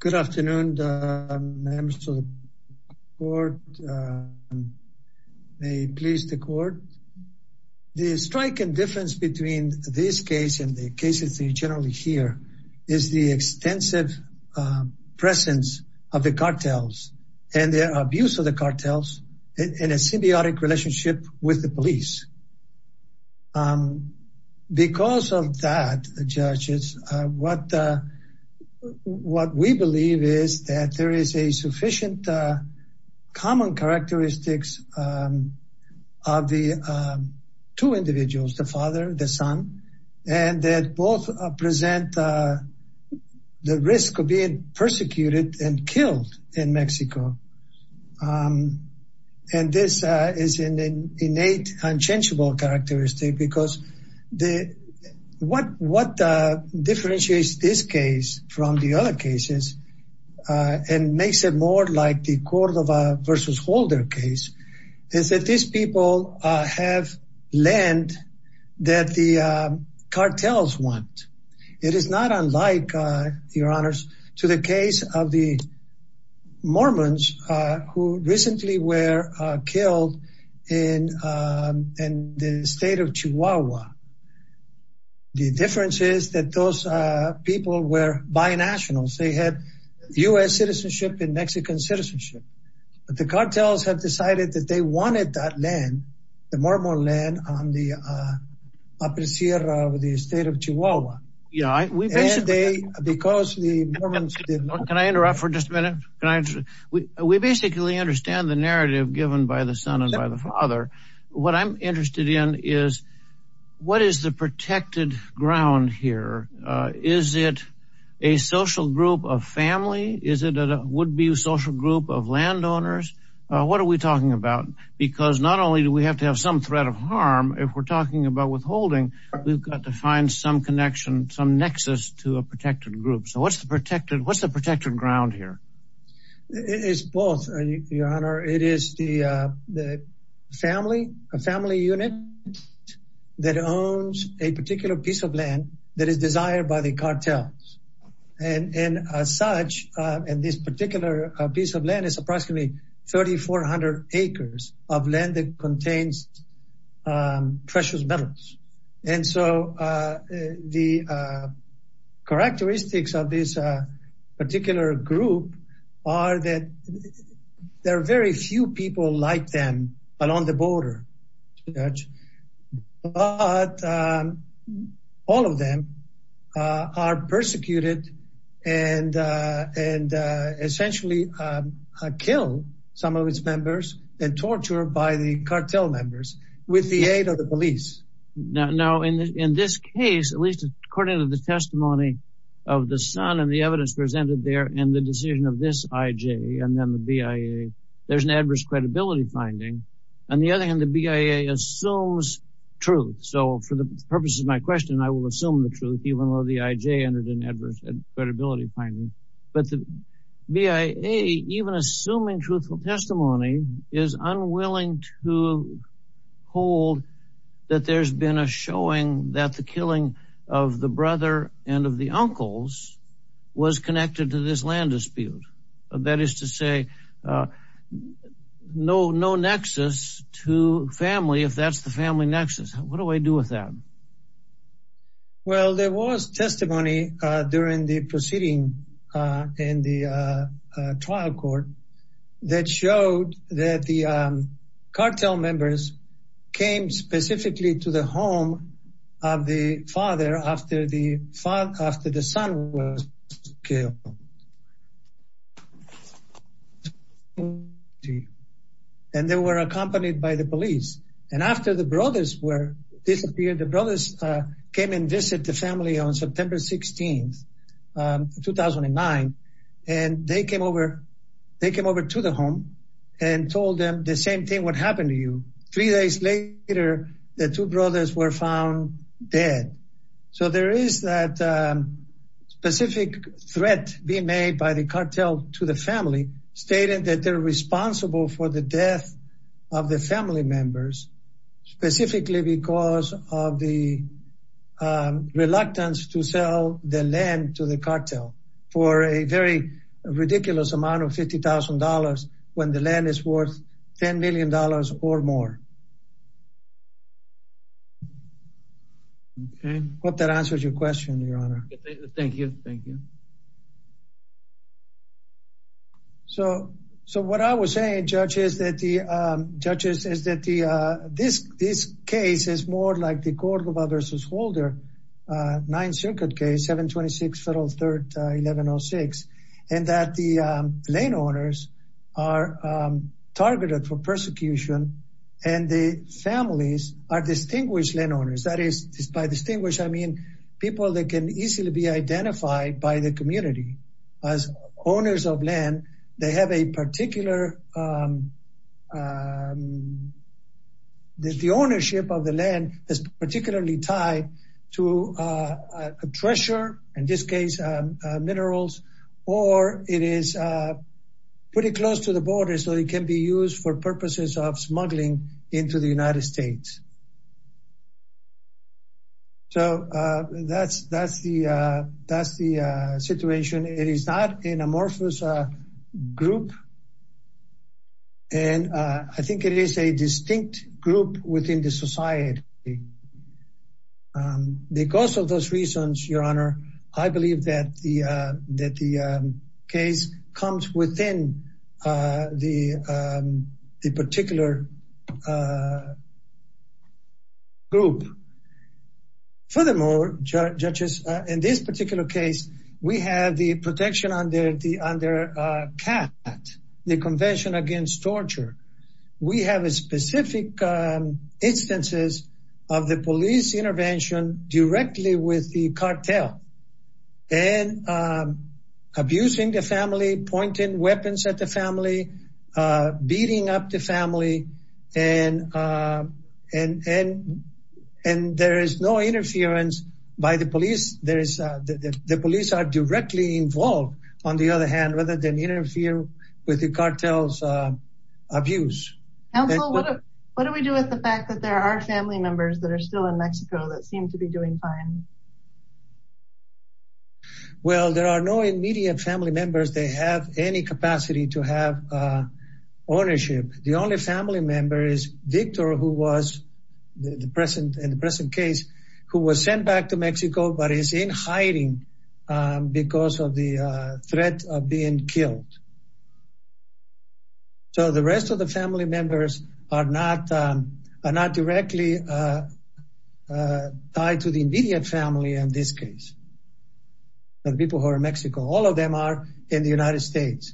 Good afternoon, members of the court. May it please the court. The striking difference between this case and the cases you generally hear is the extensive presence of the cartels and the abuse of the cartels in a symbiotic relationship with the what we believe is that there is a sufficient common characteristics of the two individuals, the father, the son, and that both present the risk of being persecuted and killed in Mexico. And this is an innate, unchangeable because what differentiates this case from the other cases and makes it more like the Cordova v. Holder case is that these people have land that the cartels want. It is not unlike, your honors, to the case of the Mormons who recently were killed in the state of Chihuahua. The difference is that those people were binationals. They had U.S. citizenship and Mexican citizenship. But the cartels have decided that they wanted that land, the Mormon land, on the upper sierra of the state of Chihuahua. Can I interrupt for just a minute? We basically understand the narrative given by the son and by the father. What I'm interested in is what is the protected ground here? Is it a social group of family? Is it a would-be social group of landowners? What are we talking about? Because not only do we have to have some threat of harm, if we're talking about withholding, we've got to find some connection, some nexus to a protected group. So what's the protected ground here? It's both, your honor. It is the family, a family unit that owns a particular piece of land that is desired by the cartels. And as such, this particular piece of land is 3,400 acres of land that contains precious metals. And so the characteristics of this particular group are that there are very few people like them along the border, Judge, but all of them are persecuted and essentially kill some of its members and tortured by the cartel members with the aid of the police. Now, in this case, at least according to the testimony of the son and the evidence presented there and the decision of this IJ and then the BIA, there's an adverse credibility finding. On the other hand, the BIA assumes truth. So for the purposes of my question, I will assume the truth, even though the IJ entered an adverse credibility finding. But the BIA, even assuming truthful testimony, is unwilling to hold that there's been a showing that the killing of the brother and of the uncles was connected to this land dispute. That is to say, no nexus to family if that's the family nexus. What do I do with that? Well, there was testimony during the proceeding in the trial court that showed that the cartel was killed. And they were accompanied by the police. And after the brothers disappeared, the brothers came and visited the family on September 16, 2009. And they came over to the home and told them the same thing what happened to you. Three days later, the two brothers were found dead. So there is that specific threat being made by the cartel to the family, stating that they're responsible for the death of the family members, specifically because of the reluctance to sell the land to the cartel for a very ridiculous amount of $50,000 when the land is worth $10 million or more. I hope that answers your question, Your Honor. Thank you. Thank you. So what I was saying, Judge, is that this case is more like the Gorgova versus Holder Ninth Circuit case, 726 Federal 3rd, 1106. And that the landowners are targeted for persecution and the families are distinguished landowners. That is, by distinguished, I mean, people that can easily be identified by the community as owners of land. They have a particular, the ownership of the land is particularly tied to a treasure, in this case, minerals, or it is pretty close to the border, so it can be used for purposes of smuggling into the United States. So that's the situation. It is not an amorphous group. And I think it is a distinct group within the society. Because of those reasons, Your Honor, I believe that the case comes within the particular group. Furthermore, Judges, in this particular case, we have the protection under CAT, the Convention Against Torture. We have specific instances of the police intervention directly with the cartel, and abusing the family, pointing weapons at the family, beating up the family, and there is no interference by the police. The police are directly involved, on the other hand, rather than interfere with the cartel's abuse. Counsel, what do we do with the fact that there are family members that are still in Mexico that seem to be doing fine? Well, there are no immediate family members that have any capacity to have ownership. The only family member is Victor, who was in the present case, who was sent back to Mexico, but is in hiding because of the threat of being killed. So, the rest of the family members are not directly tied to the immediate family in this case, the people who are in Mexico. All of them are in the United States.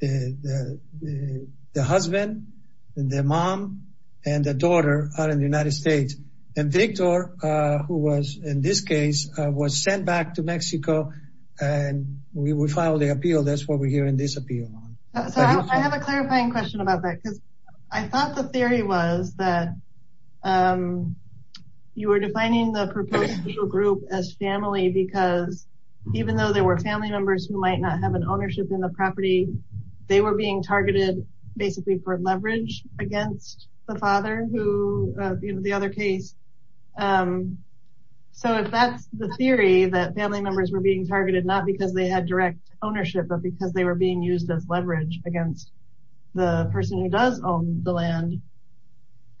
The husband, the mom, and the daughter are in the United States. And Victor, who was in this case, was sent back to Mexico, and we filed the appeal. That's what we're hearing this appeal on. So, I have a clarifying question about that, because I thought the theory was that you were defining the proposed legal group as family, because even though there were family members who might not have an ownership in the property, they were being targeted, basically, for leverage against the father, who, in the other case. So, if that's the theory, that family members were being targeted, not because they had direct ownership, but because they were being used as leverage against the person who does own the land,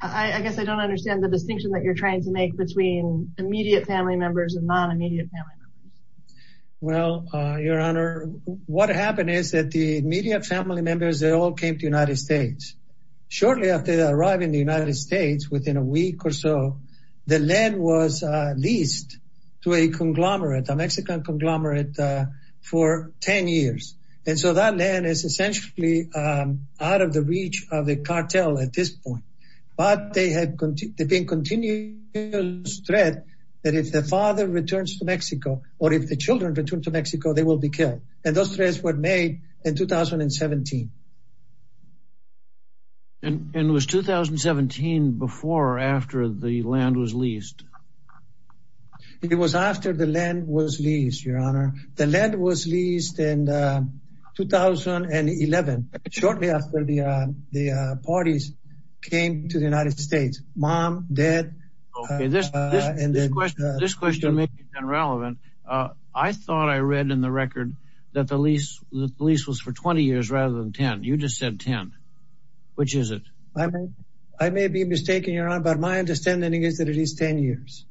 I guess I don't understand the distinction that you're trying to make between immediate family members and non-immediate family members. Well, Your Honor, what happened is that the immediate family members, they all came to the United States. Shortly after they arrived in the United States, within a week or so, the land was leased to a Mexican conglomerate for 10 years. And so, that land is essentially out of the reach of the cartel at this point. But there had been continuous threat that if the father returns to Mexico, or if the children return to Mexico, they will be killed. And those threats were made in 2017. And it was 2017 before or after the land was leased? It was after the land was leased, Your Honor. The land was leased in 2011, shortly after the parties came to the United States, mom, dad. Okay, this question may be that the lease was for 20 years rather than 10. You just said 10. Which is it? I may be mistaken, Your Honor, but my understanding is that it is 10 years.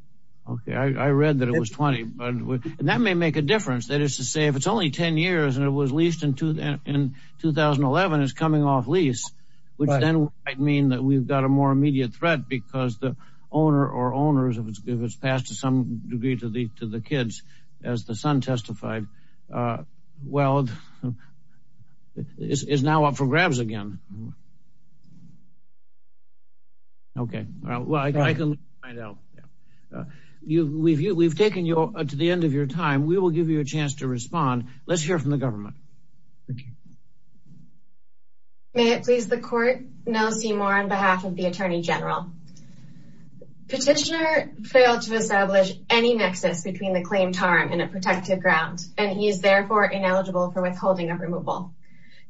Okay, I read that it was 20. And that may make a difference. That is to say, if it's only 10 years and it was leased in 2011, it's coming off lease, which then might mean that we've got a more immediate threat because the owner or owners, if it's passed to some degree to the kids, as the son testified, well, it's now up for grabs again. Okay, well, I can find out. We've taken you to the end of your time, we will give you a chance to respond. Let's hear from the government. May it please the court? No, Seymour, on behalf of the Attorney General. Petitioner failed to establish any nexus between the claim to harm and a protective ground, and he is therefore ineligible for withholding of removal.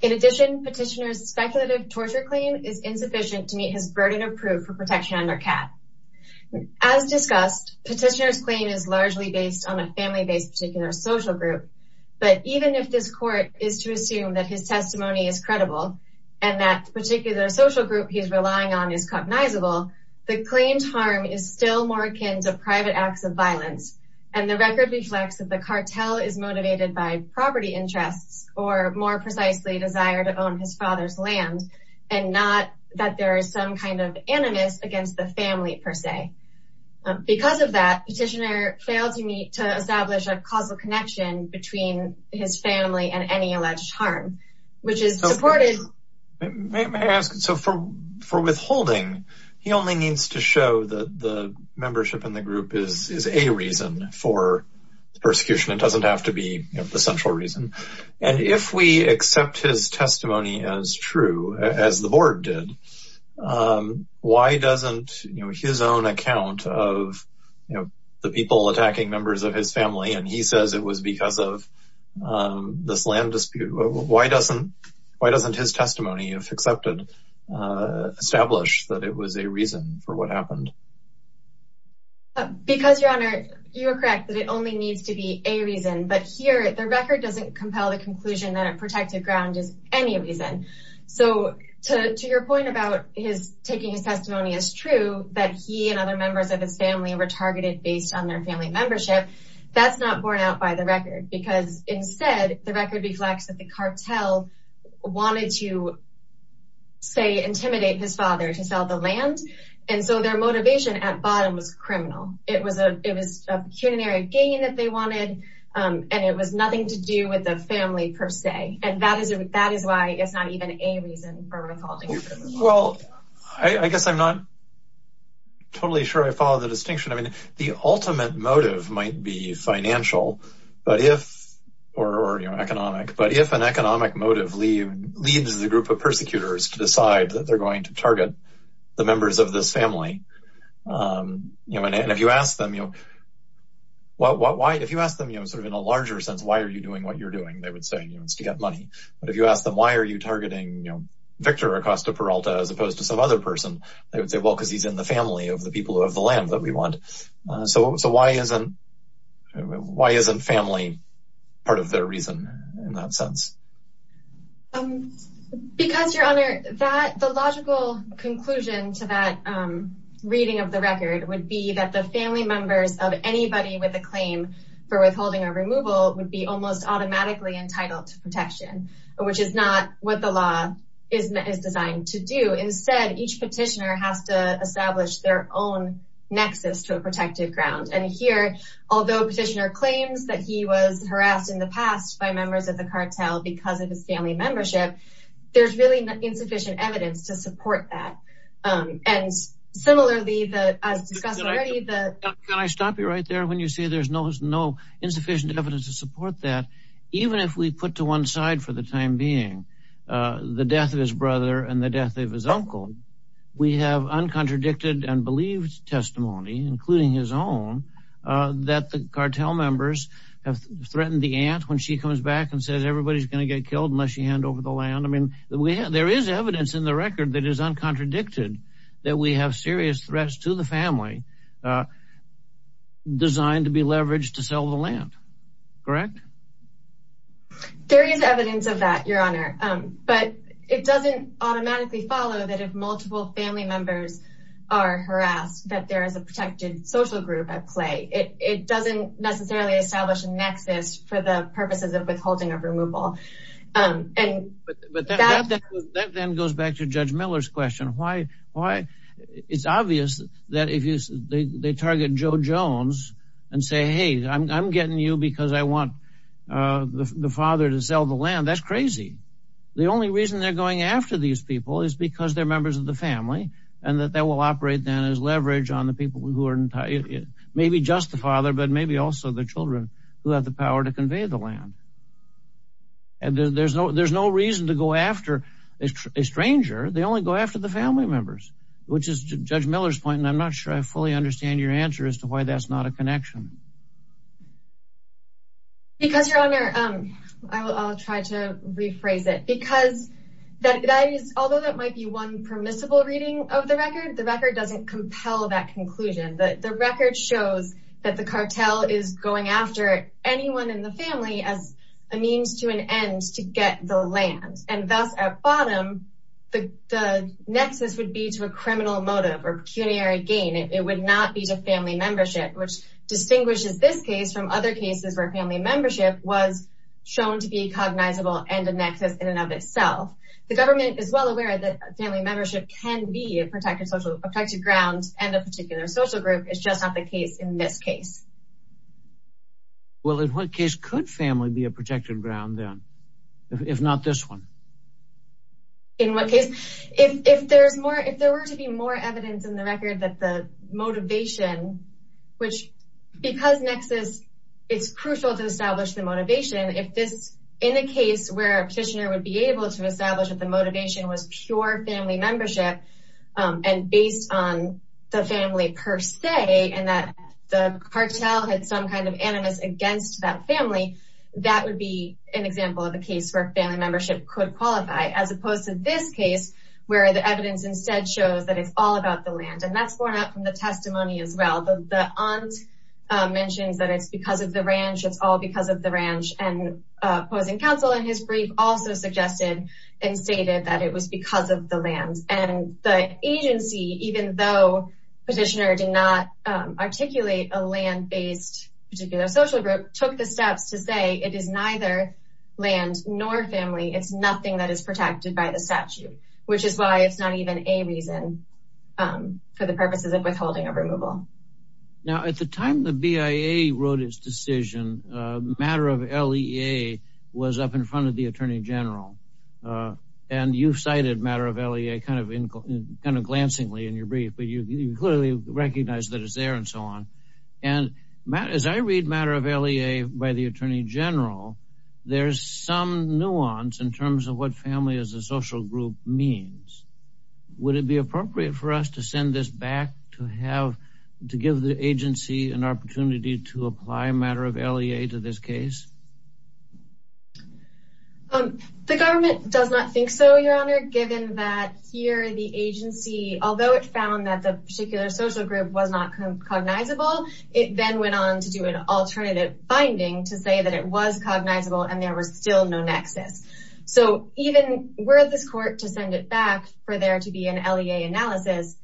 In addition, petitioner's speculative torture claim is insufficient to meet his burden of proof for protection under CAP. As discussed, petitioner's claim is largely based on a family-based particular social group. But even if this court is to assume that his testimony is credible, and that particular social group he's relying on is cognizable, the claimed harm is still more akin to private acts of violence. And the record reflects that the cartel is motivated by property interests, or more precisely desire to own his father's land, and not that there is some kind of animus against the family per se. Because of that, petitioner failed to meet to establish a causal connection between his family and any alleged harm, which is supported. So for withholding, he only needs to show that the membership in the group is a reason for persecution. It doesn't have to be the central reason. And if we accept his testimony as true, as the board did, why doesn't his own account of the people attacking members of his family, and he says it was because of this land dispute, why doesn't his testimony, if accepted, establish that it was a reason for what happened? Because, your honor, you are correct that it only needs to be a reason. But here, the record doesn't compel the conclusion that a protected ground is any reason. So to your point about his taking his testimony as true, that he and other members of his family were targeted based on their family membership, that's not borne out by the record. Because instead, the record reflects that the cartel wanted to, say, intimidate his father to sell the land, and so their motivation at bottom was criminal. It was a pecuniary gain that they wanted, and it was nothing to do with the family per se. And that is why it's not even a reason for withholding. Well, I guess I'm not totally sure I follow the distinction. I mean, the ultimate motive might be financial, or economic, but if an economic motive leads the group of persecutors to decide that they're going to target the members of this family, and if you ask them, sort of in a larger sense, why are you doing what you're doing, they would say it's to get money. But if you ask them, why are you targeting Victor Acosta-Peralta as opposed to some other person, they would say, well, because he's in the family of the people of the land that we want. So why isn't family part of their reason in that sense? Because, Your Honor, the logical conclusion to that reading of the record would be that the family members of anybody with a claim for withholding or removal would be almost automatically entitled to protection, which is not what the law is designed to do. Instead, each petitioner has to nexus to a protected ground. And here, although a petitioner claims that he was harassed in the past by members of the cartel because of his family membership, there's really insufficient evidence to support that. And similarly, as discussed already, the- Can I stop you right there when you say there's no insufficient evidence to support that? Even if we put to one side for the time being, the death of his brother and the death of his uncle, we have uncontradicted and believed testimony, including his own, that the cartel members have threatened the aunt when she comes back and says everybody's going to get killed unless you hand over the land. I mean, there is evidence in the record that is uncontradicted, that we have serious threats to the family designed to be leveraged to sell the land. Correct? There is evidence of that, Your Honor. But it doesn't automatically follow that if multiple family members are harassed, that there is a protected social group at play. It doesn't necessarily establish a nexus for the purposes of withholding or removal. And- But that then goes back to Judge Miller's question. Why- It's obvious that if they target Joe Jones and say, hey, I'm getting you because I want the father to sell the land, that's crazy. The only reason they're going after these people is because they're members of the family and that they will operate then as leverage on the people who are- Maybe just the father, but maybe also the children who have the power to convey the land. And there's no reason to go after a stranger. They only go after the family members, which is Judge Miller's point. And I'm not sure I fully understand your answer as to why that's not a connection. Because, Your Honor, I'll try to rephrase it. Because that is- Although that might be one permissible reading of the record, the record doesn't compel that conclusion. The record shows that the cartel is going after anyone in the family as a means to an end to get the land. And thus, at bottom, the nexus would be to a criminal motive or pecuniary gain. It would not be to family membership, which distinguishes this case from other cases where family membership was shown to be cognizable and a nexus in and of itself. The government is well aware that family membership can be a protected social- a protected ground and a particular social group. It's just not the case in this case. Well, in what case could family be a protected ground then? If not this one. In what case? If there's more- If there were to be more evidence in the record that the motivation, which- Because nexus, it's crucial to establish the motivation. If this- In a case where a petitioner would be able to establish that the motivation was pure family membership and based on the family per se and that the cartel had some kind of animus against that family, that would be an example of a case where family membership could qualify as opposed to this case where the evidence instead shows that it's all about the land. And that's borne out from the testimony as well. The aunt mentions that it's because of the ranch. It's all because of the ranch. And opposing counsel in his brief also suggested and stated that it was because of the land. And the agency, even though petitioner did not articulate a land-based particular social group, took the steps to say it is neither land nor family. It's nothing that is protected by the statute, which is why it's not even a reason for the purposes of withholding of removal. Now, at the time the BIA wrote its decision, matter of LEA was up in front of the attorney general. And you cited matter of LEA kind of in kind of glancingly in your brief, but you clearly recognize that it's there and so on. And as I read matter of LEA by the attorney general, there's some nuance in terms of what family as a social group means. Would it be appropriate for us to send this back to give the agency an opportunity to apply matter of LEA to this case? The government does not think so, your honor, given that here the agency, although it found that the particular social group was not cognizable, it then went on to do an alternative finding to say that it was cognizable and there was still no nexus. So even were this court to send it back for there to be an LEA analysis,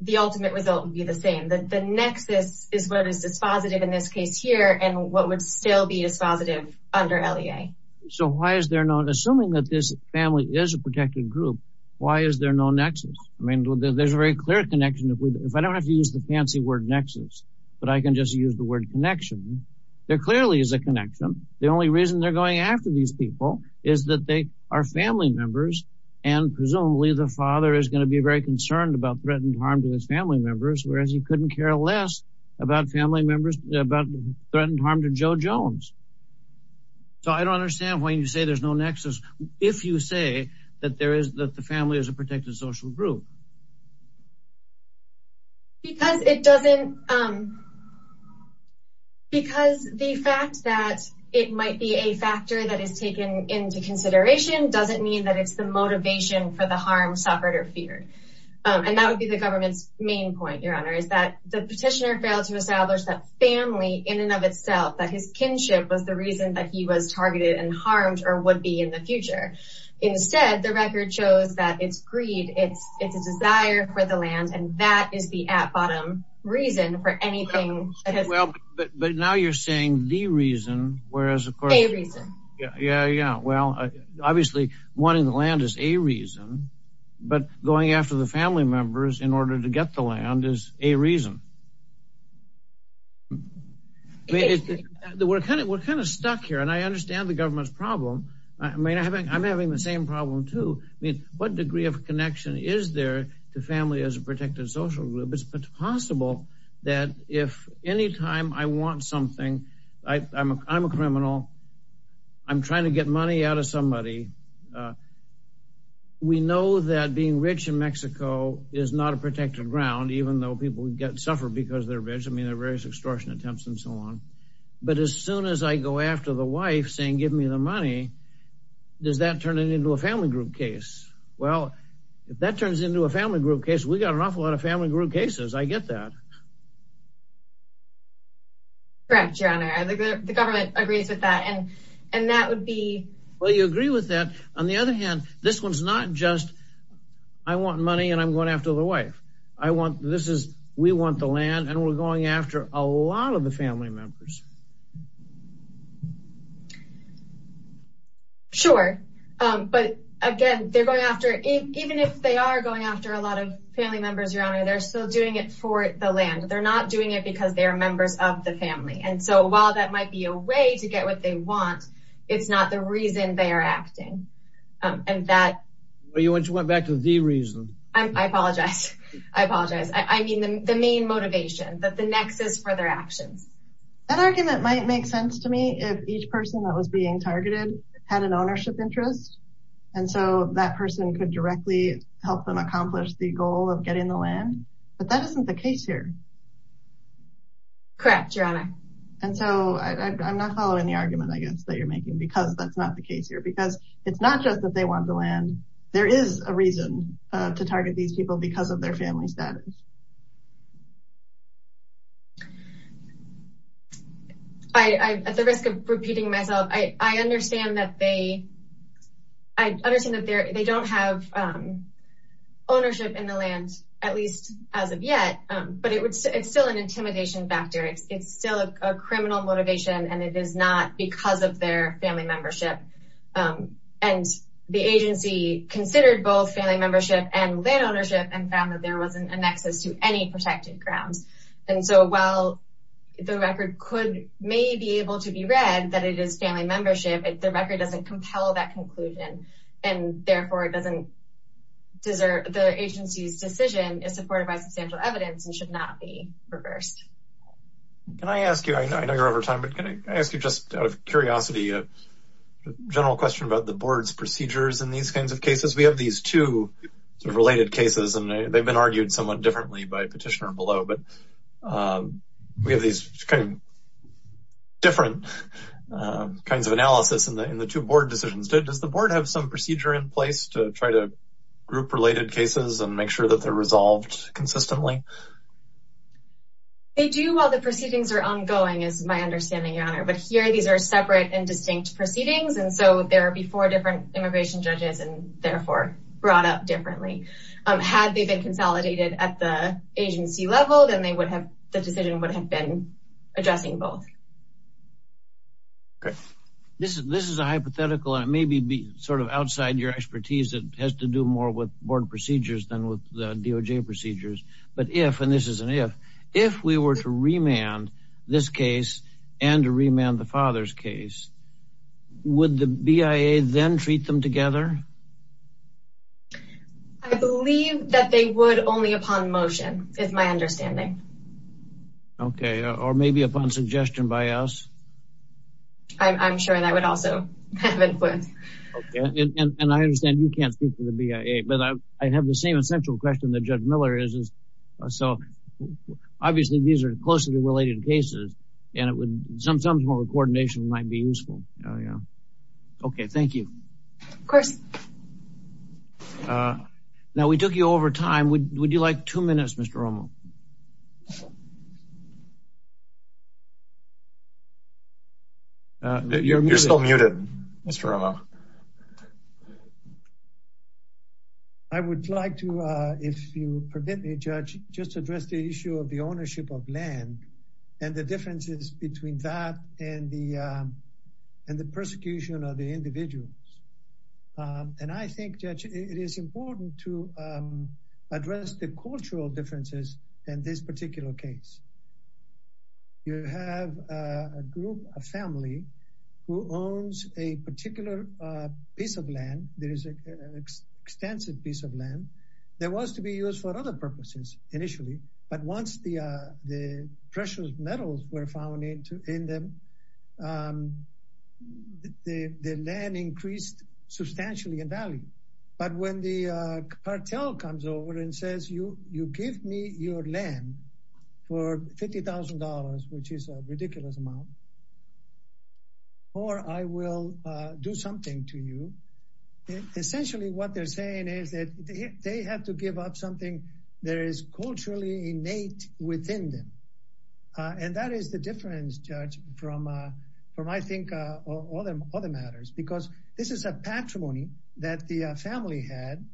the ultimate result would be the same. That the nexus is what is dispositive in this case here and what would still be dispositive under LEA. So why is there no, assuming that this family is a protected group, why is there no nexus? I mean, there's a very clear connection. If I don't have to use the fancy word nexus, but I can just use the word connection. There clearly is a connection. The only reason they're going after these people is that they are family members. And presumably the father is going to be very concerned about threatened harm to his family members, whereas he couldn't care less about family members, about threatened harm to Joe Jones. So I don't understand why you say there's no nexus. If you say that there is, that the family is a protected social group. Because it doesn't, because the fact that it might be a factor that is taken into consideration doesn't mean that it's the motivation for the harm suffered or feared. And that would be the government's main point, your honor, is that the petitioner failed to establish that family in and of itself, that his kinship was the reason that he was targeted and harmed or would be in future. Instead, the record shows that it's greed. It's a desire for the land. And that is the at bottom reason for anything. Well, but now you're saying the reason, whereas of course, yeah, yeah, yeah. Well, obviously wanting the land is a reason, but going after the family members in order to get the land is a reason. I mean, we're kind of stuck here and I understand the government's problem. I mean, I'm having the same problem too. I mean, what degree of connection is there to family as a protected social group? It's possible that if any time I want something, I'm a criminal, I'm trying to get money out of somebody. We know that being rich in Mexico is not a protected ground, even though people get suffered because they're rich. I mean, there are various extortion attempts and so on. But as soon as I go after the wife saying, give me the money, does that turn it into a family group case? Well, if that turns into a family group case, we got an awful lot of family group cases. I get that. Correct, your honor. The government agrees with that. And that would be. Well, you agree with that. On the other hand, this one's not just I want money and I'm going after the wife. I want this is we want the land and we're going after a lot of the family members. Sure. But again, they're going after it, even if they are going after a lot of family members, your honor, they're still doing it for the land. They're not doing it because they're members of the family. And so while that might be a way to get what they want, it's not the reason they are acting. And that you went back to the reason. I apologize. I apologize. I mean, the main motivation that the nexus for their actions. That argument might make sense to me if each person that was being targeted had an ownership interest. And so that person could directly help them accomplish the goal of getting the land. But that isn't the case here. Correct, your honor. And so I'm not following the argument, I guess, that you're making, because that's not the case here, because it's not just that they want the land. There is a reason to target these people because of their family status. I at the risk of repeating myself, I understand that they I understand that they don't have ownership in the land, at least as of yet. But it's still an intimidation factor. It's still a criminal motivation, and it is not because of their family membership. And the agency considered both family membership and land ownership and found that there wasn't a nexus to any protected grounds. And so while the record could may be able to be read that it is family membership, the record doesn't compel that conclusion. And therefore it doesn't desert the agency's decision is supported by substantial evidence and should not be reversed. Can I ask you, I know you're over time, but can I ask you just out of curiosity, a general question about the board's procedures in these kinds of cases, we have these two related cases, and they've been argued somewhat differently by petitioner below. But we have these different kinds of analysis in the in the two board decisions. Does the board have some procedure in place to try to group related cases and make sure that they're resolved consistently? They do all the proceedings are ongoing is my understanding, your honor. But here these are separate and distinct proceedings. And so there are before different immigration judges and therefore brought up differently. Had they been consolidated at the agency level, then they would have the decision would have been addressing both. Okay, this is this is a hypothetical and maybe be sort of outside your expertise that has to do more with board procedures than with the DOJ procedures. But if and this is an if, if we were to remand this case, and remand the father's case, would the BIA then treat them together? I believe that they would only upon motion is my understanding. Okay, or maybe upon suggestion by us. I'm sure that would also have influence. And I understand you can't speak to the BIA. But I have the same essential question that Judge Miller is. So obviously, these are closely related cases. And it would be interesting to hear your thoughts on that. Of course. Now, we took you over time. Would you like two minutes, Mr. Romo? You're still muted, Mr. Romo. I would like to, if you permit me, Judge, just address the issue of the ownership of land, and the differences between that and the, and the persecution of the individuals. And I think, Judge, it is important to address the cultural differences in this particular case. You have a group of family who owns a particular piece of land, there is an extensive piece of metals were found in them. The land increased substantially in value. But when the cartel comes over and says, you give me your land for $50,000, which is a ridiculous amount, or I will do something to you. Essentially, what they're saying is that they have to give up something that is culturally innate within them. And that is the difference, Judge, from, from I think, other matters, because this is a patrimony that the family had.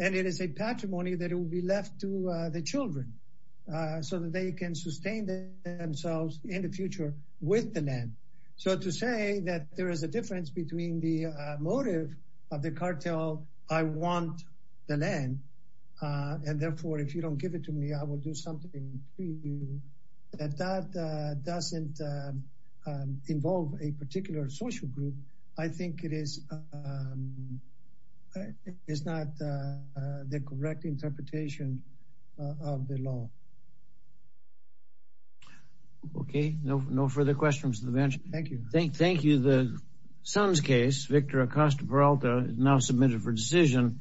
And it is a patrimony that will be left to the children, so that they can sustain themselves in the future with the land. So to say that there is a difference between the motive of the cartel, I want the land. And therefore, if you don't give it to me, I will do something that doesn't involve a particular social group. I think it is it's not the correct interpretation of the law. Okay, no, no further questions. Thank you. Thank you. The son's case, Victor Acosta Peralta now submitted for decision.